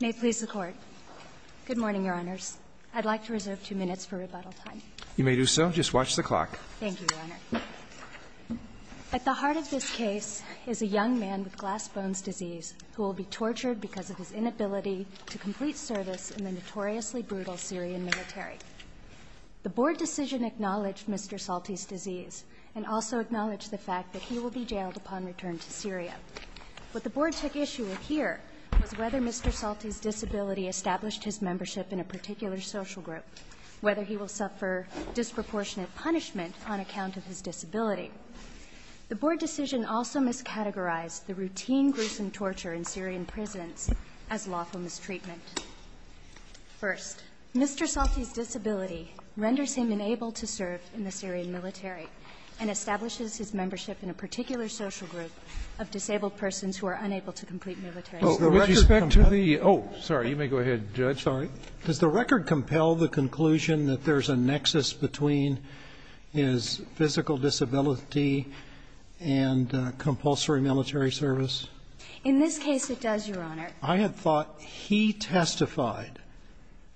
May it please the Court. Good morning, Your Honors. I'd like to reserve two minutes for rebuttal time. You may do so. Just watch the clock. Thank you, Your Honor. At the heart of this case is a young man with glass bones disease who will be tortured because of his inability to complete service in the notoriously brutal Syrian military. The Board decision acknowledged Mr. Salti's disease and also acknowledged the fact that he will be jailed upon return to Syria. What the Board took issue with here was whether Mr. Salti's disability established his membership in a particular social group, whether he will suffer disproportionate punishment on account of his disability. The Board decision also miscategorized the routine gruesome torture in Syrian prisons as lawful mistreatment. First, Mr. Salti's disability renders him unable to serve in the Syrian military and establishes his membership in a particular social group of disabled persons who are unable to complete military service. Oh, sorry. You may go ahead, Judge. Sorry. Does the record compel the conclusion that there's a nexus between his physical disability and compulsory military service? In this case, it does, Your Honor. I had thought he testified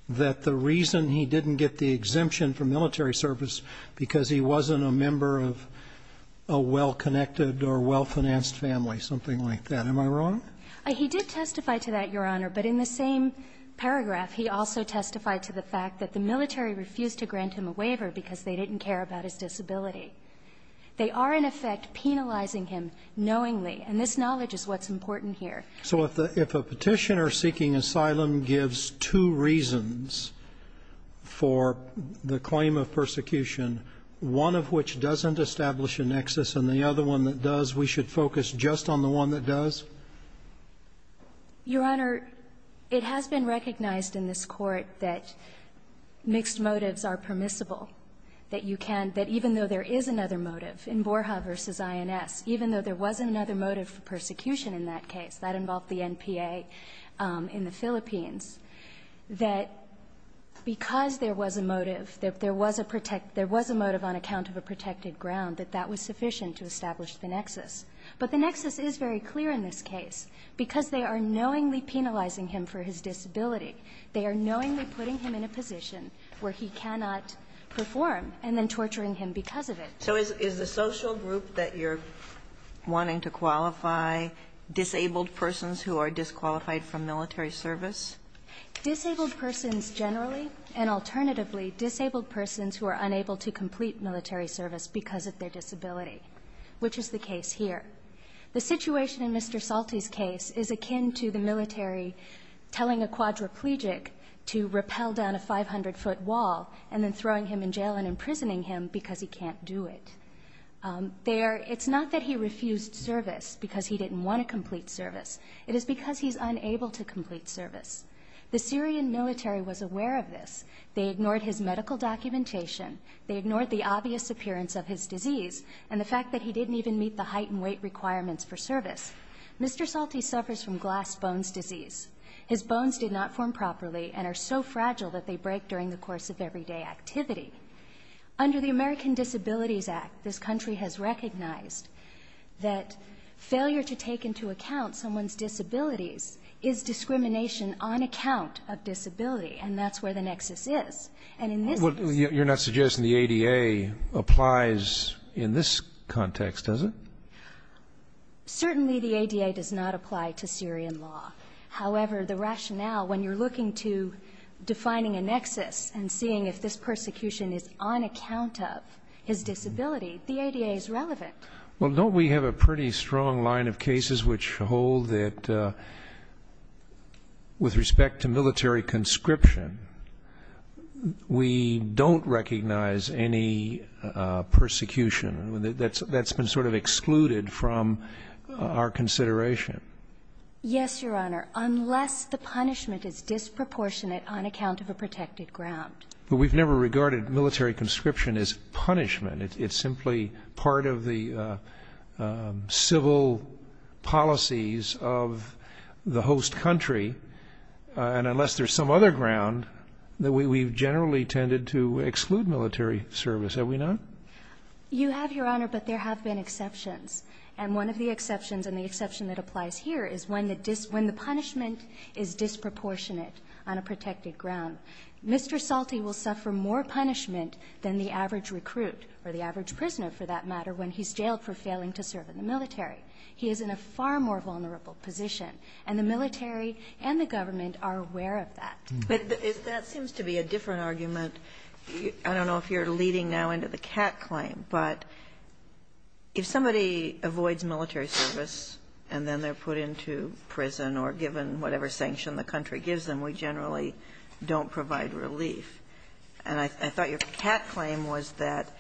that the reason he didn't get the exemption for military service was because he wasn't a member of a well-connected or well-financed family, something like that. Am I wrong? He did testify to that, Your Honor. But in the same paragraph, he also testified to the fact that the military refused to grant him a waiver because they didn't care about his disability. They are, in effect, penalizing him knowingly. And this knowledge is what's important here. So if a Petitioner seeking asylum gives two reasons for the claim of persecution, one of which doesn't establish a nexus, and the other one that does, we should focus just on the one that does? Your Honor, it has been recognized in this Court that mixed motives are permissible, that you can — that even though there is another motive in Borja v. INS, even though there was another motive for persecution in that case, that involved the NPA in the Philippines, that because there was a motive, there was a motive on account of a protected ground, that that was sufficient to establish the nexus. But the nexus is very clear in this case. Because they are knowingly penalizing him for his disability, they are knowingly putting him in a position where he cannot perform and then torturing him because of it. So is the social group that you're wanting to qualify disabled persons who are disqualified from military service? Disabled persons generally, and alternatively, disabled persons who are unable to complete military service because of their disability, which is the case here. The situation in Mr. Salte's case is akin to the military telling a quadriplegic to rappel down a 500-foot wall and then throwing him in jail and imprisoning him because he can't do it. It's not that he refused service because he didn't want to complete service. It is because he's unable to complete service. The Syrian military was aware of this. They ignored his medical documentation. They ignored the obvious appearance of his disease and the fact that he didn't even meet the height and weight requirements for service. Mr. Salte suffers from glass bones disease. His bones did not form properly and are so fragile that they break during the course of everyday activity. Under the American Disabilities Act, this country has recognized that failure to take into account someone's disabilities is discrimination on account of disability, and that's where the nexus is. And in this case... Well, you're not suggesting the ADA applies in this context, is it? Certainly the ADA does not apply to Syrian law. However, the rationale, when you're looking to defining a nexus and seeing if this persecution is on account of his disability, the ADA is relevant. Well, don't we have a pretty strong line of cases which hold that, with respect to military conscription, we don't recognize any persecution? That's been sort of excluded from our consideration. Yes, Your Honor, unless the punishment is disproportionate on account of a protected ground. But we've never regarded military conscription as punishment. It's simply part of the civil policies of the host country. And unless there's some other ground, we've generally tended to exclude military service. Have we not? You have, Your Honor, but there have been exceptions. And one of the exceptions and the exception that applies here is when the punishment is disproportionate on a protected ground. Mr. Salte will suffer more punishment than the average recruit, or the average prisoner, for that matter, when he's jailed for failing to serve in the military. He is in a far more vulnerable position. And the military and the government are aware of that. But that seems to be a different argument. I don't know if you're leading now into the cat claim, but if somebody avoids military service and then they're put into prison or given whatever sanction the country gives them, we generally don't provide relief. And I thought your cat claim was that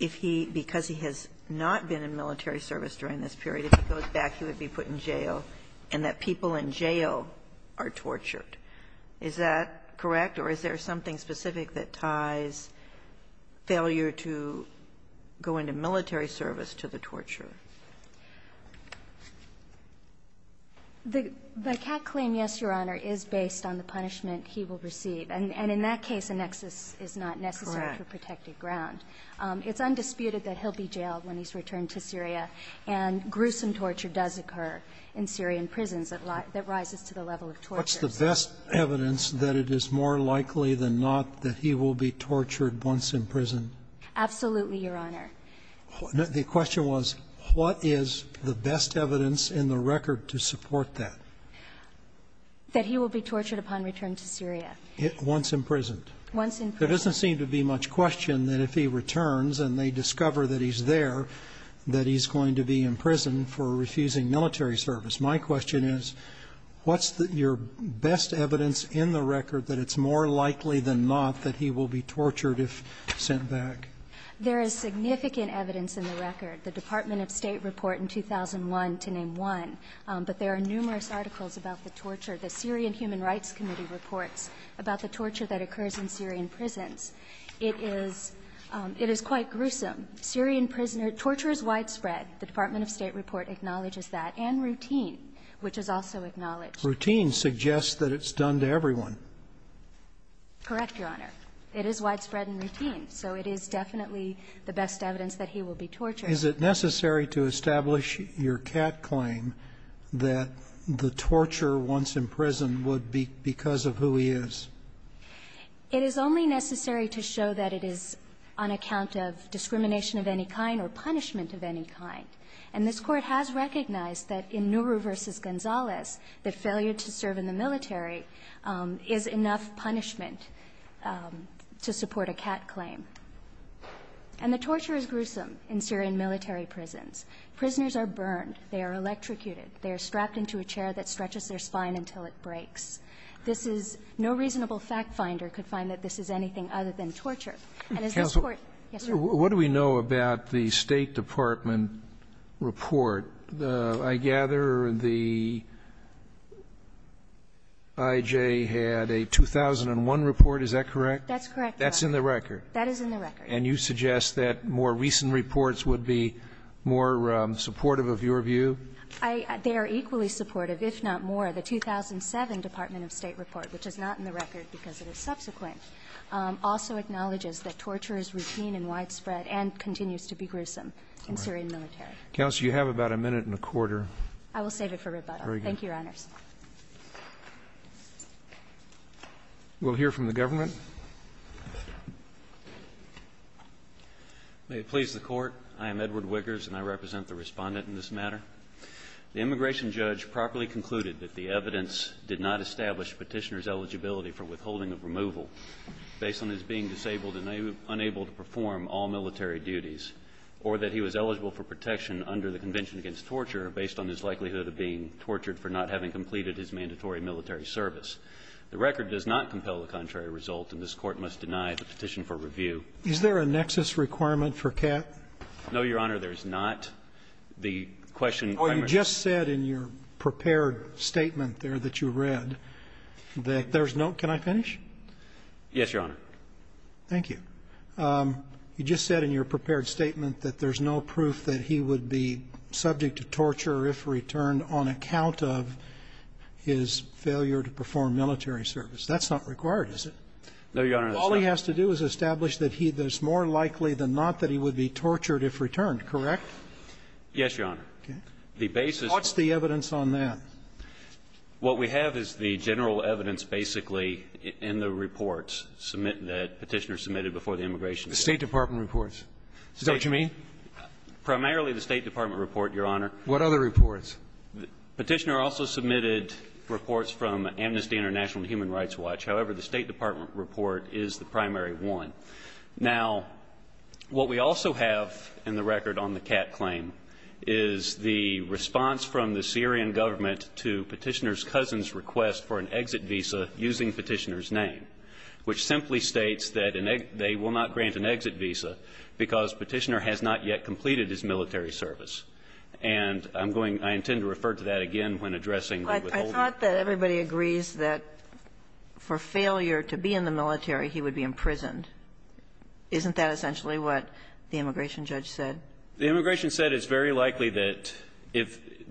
if he, because he has not been in military service during this period, if he goes back, he would be put in jail, and that people in jail are tortured. Is that correct? Or is there something specific that ties failure to go into military service to the torture? The cat claim, yes, Your Honor, is based on the punishment he will receive. And in that case, a nexus is not necessary for protected ground. It's undisputed that he'll be jailed when he's returned to Syria, and gruesome torture does occur in Syrian prisons that rises to the level of torture. What's the best evidence that it is more likely than not that he will be tortured once imprisoned? Absolutely, Your Honor. The question was, what is the best evidence in the record to support that? That he will be tortured upon return to Syria. Once imprisoned. Once imprisoned. There doesn't seem to be much question that if he returns and they discover that he's there, that he's going to be in prison for refusing military service. My question is, what's your best evidence in the record that it's more likely than not that he will be tortured if sent back? There is significant evidence in the record. The Department of State report in 2001 to name one, but there are numerous articles about the torture. The Syrian Human Rights Committee reports about the torture that occurs in Syrian prisons. It is quite gruesome. Syrian prisoners, torture is widespread, the Department of State report acknowledges that, and routine, which is also acknowledged. Routine suggests that it's done to everyone. Correct, Your Honor. It is widespread and routine, so it is definitely the best evidence that he will be tortured. Is it necessary to establish your cat claim that the torture once imprisoned would be because of who he is? It is only necessary to show that it is on account of discrimination of any kind or punishment of any kind. And this Court has recognized that in Nourou versus Gonzales, the failure to serve in the military is enough punishment to support a cat claim. And the torture is gruesome in Syrian military prisons. Prisoners are burned, they are electrocuted, they are strapped into a chair that stretches their spine until it breaks. This is no reasonable fact finder could find that this is anything other than torture. And as this Court Yes, Your Honor. What do we know about the State Department report? I gather the I.J. had a 2001 report, is that correct? That's correct, Your Honor. That's in the record. That is in the record. And you suggest that more recent reports would be more supportive of your view? They are equally supportive, if not more. The 2007 Department of State report, which is not in the record because it is subsequent, also acknowledges that torture is routine and widespread and continues to be gruesome in Syrian military. Counsel, you have about a minute and a quarter. I will save it for rebuttal. Thank you, Your Honors. We'll hear from the government. May it please the Court, I am Edward Wiggers and I represent the Respondent in this matter. The immigration judge properly concluded that the evidence did not establish petitioner's eligibility for withholding of removal based on his being disabled and unable to perform all military duties or that he was eligible for protection under the Convention Against Torture based on his likelihood of being tortured for not having completed his mandatory military service. The record does not compel the contrary result and this Court must deny the petition for review. Is there a nexus requirement for CAT? No, Your Honor. There is not. The question, I'm going to... Well, you just said in your prepared statement there that you read that there's no, can I finish? Yes, Your Honor. Thank you. You just said in your prepared statement that there's no proof that he would be subject to torture if returned on account of his failure to perform military service. That's not required, is it? No, Your Honor, that's not. All he has to do is establish that he, that it's more likely than not that he would be tortured if returned, correct? Yes, Your Honor. The basis... What's the evidence on that? What we have is the general evidence basically in the reports that Petitioner submitted before the immigration... The State Department reports. Is that what you mean? Primarily the State Department report, Your Honor. What other reports? Petitioner also submitted reports from Amnesty International and Human Rights Watch. However, the State Department report is the primary one. Now, what we also have in the record on the Catt claim is the response from the Syrian government to Petitioner's cousin's request for an exit visa using Petitioner's name, which simply states that they will not grant an exit visa because Petitioner has not yet completed his military service. And I'm going, I intend to refer to that again when addressing the withholding... I thought that everybody agrees that for failure to be in the military, he would be imprisoned. Isn't that essentially what the immigration judge said? The immigration said it's very likely that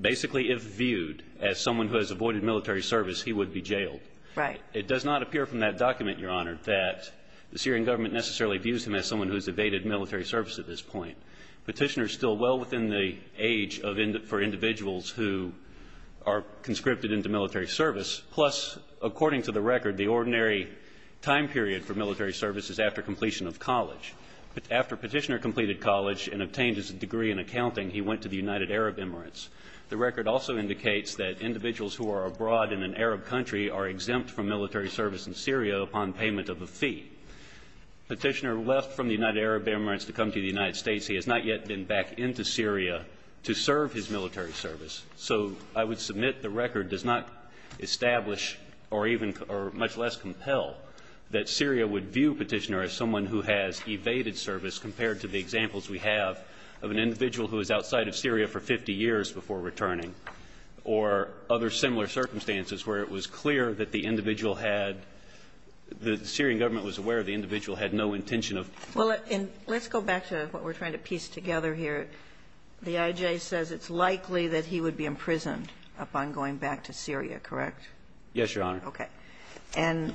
basically if viewed as someone who has avoided military service, he would be jailed. Right. It does not appear from that document, Your Honor, that the Syrian government necessarily views him as someone who's evaded military service at this point. Petitioner's still well within the age for individuals who are conscripted into military service. Plus, according to the record, the ordinary time period for military service is after completion of college. After Petitioner completed college and obtained his degree in accounting, he went to the United Arab Emirates. The record also indicates that individuals who are abroad in an Arab country are exempt from military service in Syria upon payment of a fee. Petitioner left from the United Arab Emirates to come to the United States. He has not yet been back into Syria to serve his military service. So I would submit the record does not establish or even or much less compel that Syria would view Petitioner as someone who has evaded service compared to the examples we have of an individual who was outside of Syria for 50 years before returning or other similar circumstances where it was clear that the individual had the Syrian government was aware the individual had no intention of. Well, let's go back to what we're trying to piece together here. The I.J. says it's likely that he would be imprisoned upon going back to Syria, correct? Yes, Your Honor. Okay. And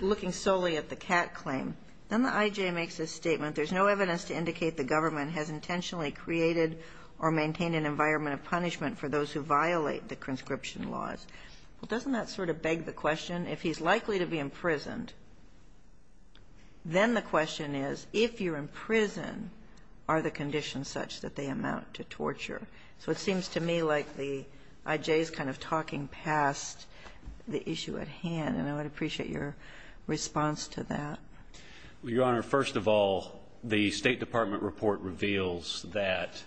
looking solely at the Catt claim, then the I.J. makes a statement, There's no evidence to indicate the government has intentionally created or maintained an environment of punishment for those who violate the conscription laws. Doesn't that sort of beg the question, if he's likely to be imprisoned, then the question is, if you're in prison, are the conditions such that they amount to torture? So it seems to me like the I.J.'s kind of talking past the issue at hand, and I would appreciate your response to that. Well, Your Honor, first of all, the State Department report reveals that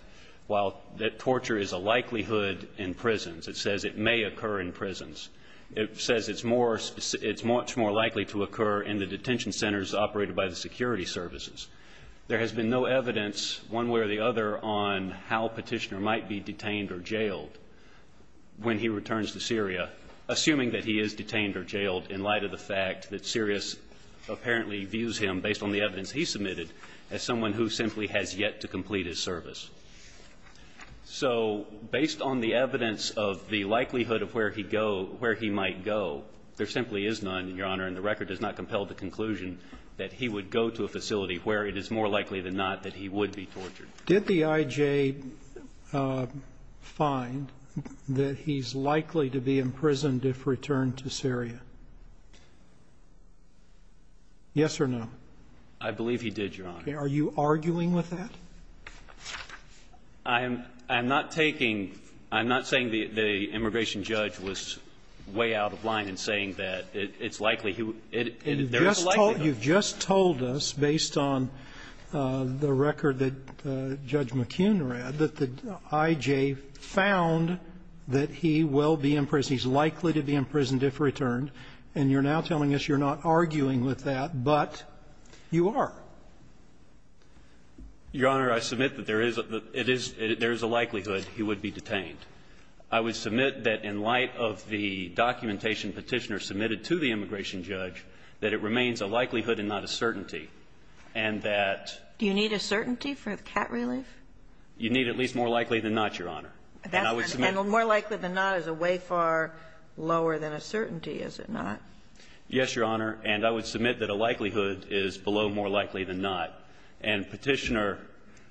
while that torture is a likelihood in prisons, it says it may occur in prisons, it says it's more it's much more likely to occur in the detention centers operated by the security services. There has been no evidence one way or the other on how Petitioner might be detained or jailed when he returns to Syria, assuming that he is detained or jailed in light of the fact that Sirius apparently views him, based on the evidence he submitted, as someone who simply has yet to complete his service. So based on the evidence of the likelihood of where he go, where he might go, there simply is none, Your Honor, and the record does not compel the conclusion that he would go to a facility where it is more likely than not that he would be tortured. Did the I.J. find that he's likely to be imprisoned if returned to Syria? Yes or no? I believe he did, Your Honor. Are you arguing with that? I'm not taking – I'm not saying the immigration judge was way out of line in saying that it's likely he would – there is a likelihood. You've just told us, based on the record that Judge McKeown read, that the I.J. found that he will be imprisoned. He's likely to be imprisoned if returned. And you're now telling us you're not arguing with that, but you are. Your Honor, I submit that there is a likelihood he would be detained. I would submit that in light of the documentation Petitioner submitted to the immigration judge that it remains a likelihood and not a certainty, and that – Do you need a certainty for the cat relief? You need at least more likely than not, Your Honor. And I would submit – And more likely than not is way far lower than a certainty, is it not? Yes, Your Honor. And I would submit that a likelihood is below more likely than not. And Petitioner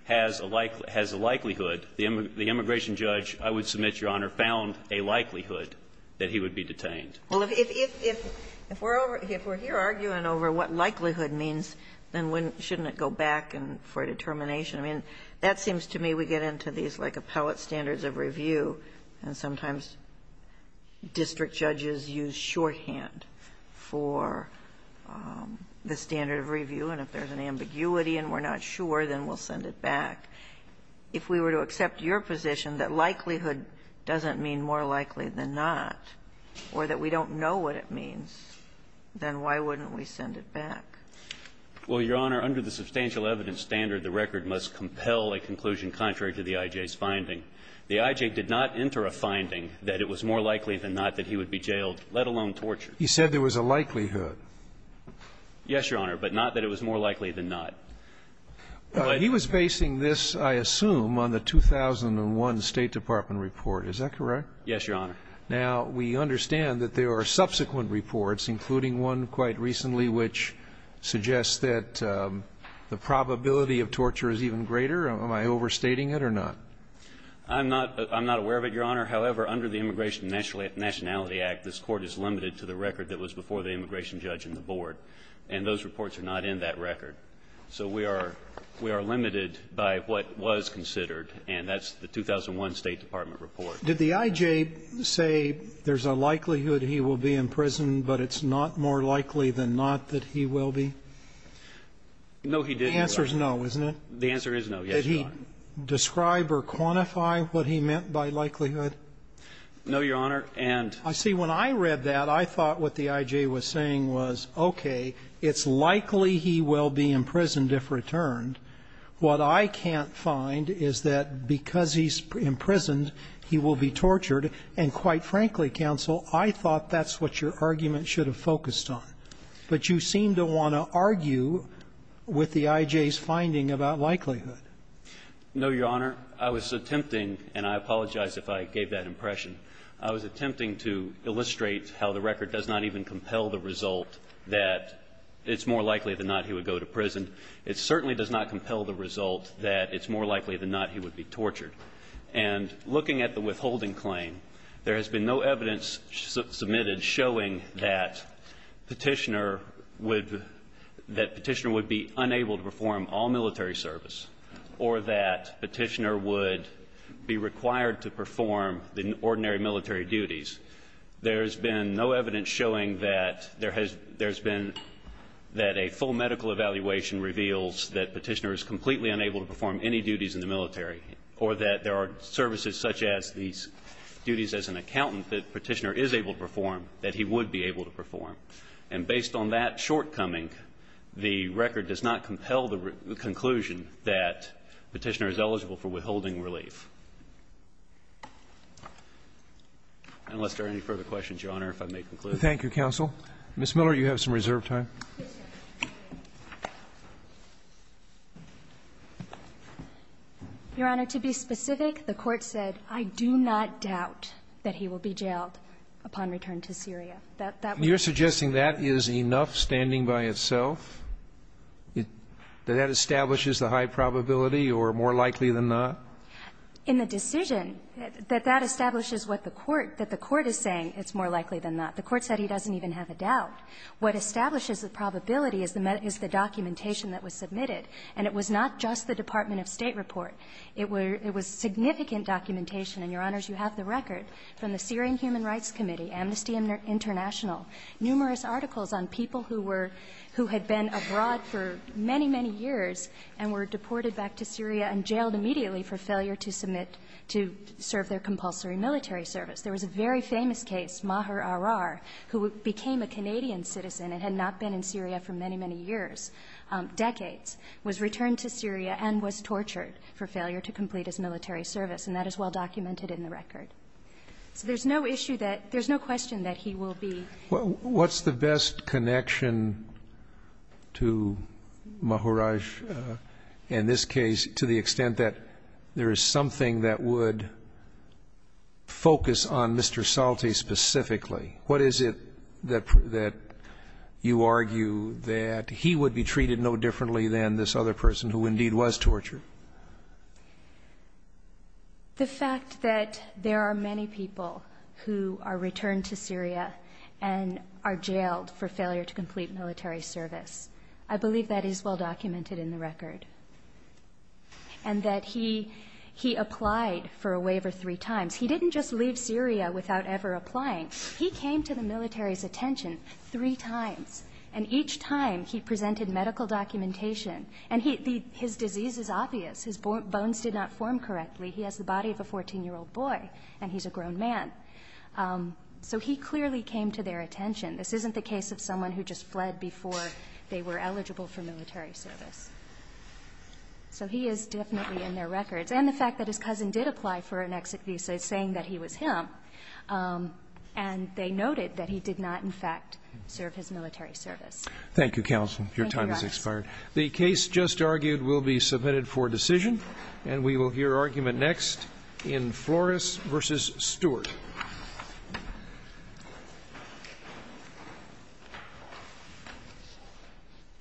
has a likelihood. The immigration judge, I would submit, Your Honor, found a likelihood that he would be detained. Well, if we're here arguing over what likelihood means, then shouldn't it go back for a determination? I mean, that seems to me we get into these like appellate standards of review, and sometimes district judges use shorthand for the standard of review. And if there's an ambiguity and we're not sure, then we'll send it back. If we were to accept your position that likelihood doesn't mean more likely than not or that we don't know what it means, then why wouldn't we send it back? Well, Your Honor, under the substantial evidence standard, the record must compel a conclusion contrary to the I.J.'s finding. The I.J. did not enter a finding that it was more likely than not that he would be jailed, let alone tortured. He said there was a likelihood. Yes, Your Honor, but not that it was more likely than not. He was basing this, I assume, on the 2001 State Department report. Is that correct? Yes, Your Honor. Now, we understand that there are subsequent reports, including one quite recently, which suggests that the probability of torture is even greater. Am I overstating it or not? I'm not aware of it, Your Honor. However, under the Immigration and Nationality Act, this Court is limited to the record that was before the immigration judge and the board. And those reports are not in that record. So we are limited by what was considered, and that's the 2001 State Department report. Did the I.J. say there's a likelihood he will be in prison, but it's not more likely than not that he will be? No, he didn't, Your Honor. The answer is no, isn't it? The answer is no, yes, Your Honor. Did he describe or quantify what he meant by likelihood? No, Your Honor. And see, when I read that, I thought what the I.J. was saying was, okay, it's likely he will be imprisoned if returned. What I can't find is that because he's imprisoned, he will be tortured, and quite frankly, counsel, I thought that's what your argument should have focused on. But you seem to want to argue with the I.J.'s finding about likelihood. No, Your Honor. I was attempting, and I apologize if I gave that impression. I was attempting to illustrate how the record does not even compel the result that it's more likely than not he would go to prison. It certainly does not compel the result that it's more likely than not he would be tortured. And looking at the withholding claim, there has been no evidence submitted showing that Petitioner would be unable to perform all military service or that Petitioner would be required to perform ordinary military duties. There has been no evidence showing that there has been that a full medical evaluation reveals that Petitioner is completely unable to perform any duties in the military or that there are services such as these duties as an accountant that Petitioner is able to perform that he would be able to perform. And based on that shortcoming, the record does not compel the conclusion that Petitioner is eligible for withholding relief. Unless there are any further questions, Your Honor, if I may conclude. Roberts. Thank you, counsel. Ms. Miller, you have some reserved time. Your Honor, to be specific, the Court said, I do not doubt that he will be jailed upon return to Syria. That would be sufficient. You're suggesting that is enough standing by itself, that that establishes the high probability or more likely than not? In the decision, that that establishes what the Court, that the Court is saying it's more likely than not. The Court said he doesn't even have a doubt. What establishes the probability is the documentation that was submitted. And it was not just the Department of State report. It was significant documentation, and, Your Honors, you have the record from the Syrian Human Rights Committee, Amnesty International, numerous articles on people who were who had been abroad for many, many years and were deported back to Syria and jailed immediately for failure to submit, to serve their compulsory military service. There was a very famous case, Maher Arar, who became a Canadian citizen and had not been in Syria for many, many years, decades, was returned to Syria and was tortured for failure to complete his military service, and that is well documented in the record. So there's no issue that, there's no question that he will be. What's the best connection to Maher Arar in this case to the extent that there is something that would focus on Mr. Salte specifically? What is it that you argue that he would be treated no differently than this other person who indeed was tortured? The fact that there are many people who are returned to Syria and are jailed for failure to complete military service. I believe that is well documented in the record, and that he applied for a waiver three times. He didn't just leave Syria without ever applying. He came to the military's attention three times, and each time he presented medical documentation, and his disease is obvious. His bones did not form correctly. He has the body of a 14-year-old boy, and he's a grown man. So he clearly came to their attention. This isn't the case of someone who just fled before they were eligible for military service. So he is definitely in their records. And the fact that his cousin did apply for an exit visa is saying that he was him, and they noted that he did not, in fact, serve his military service. Thank you, counsel. Your time has expired. The case just argued will be submitted for decision, and we will hear argument next in Flores v. Stewart.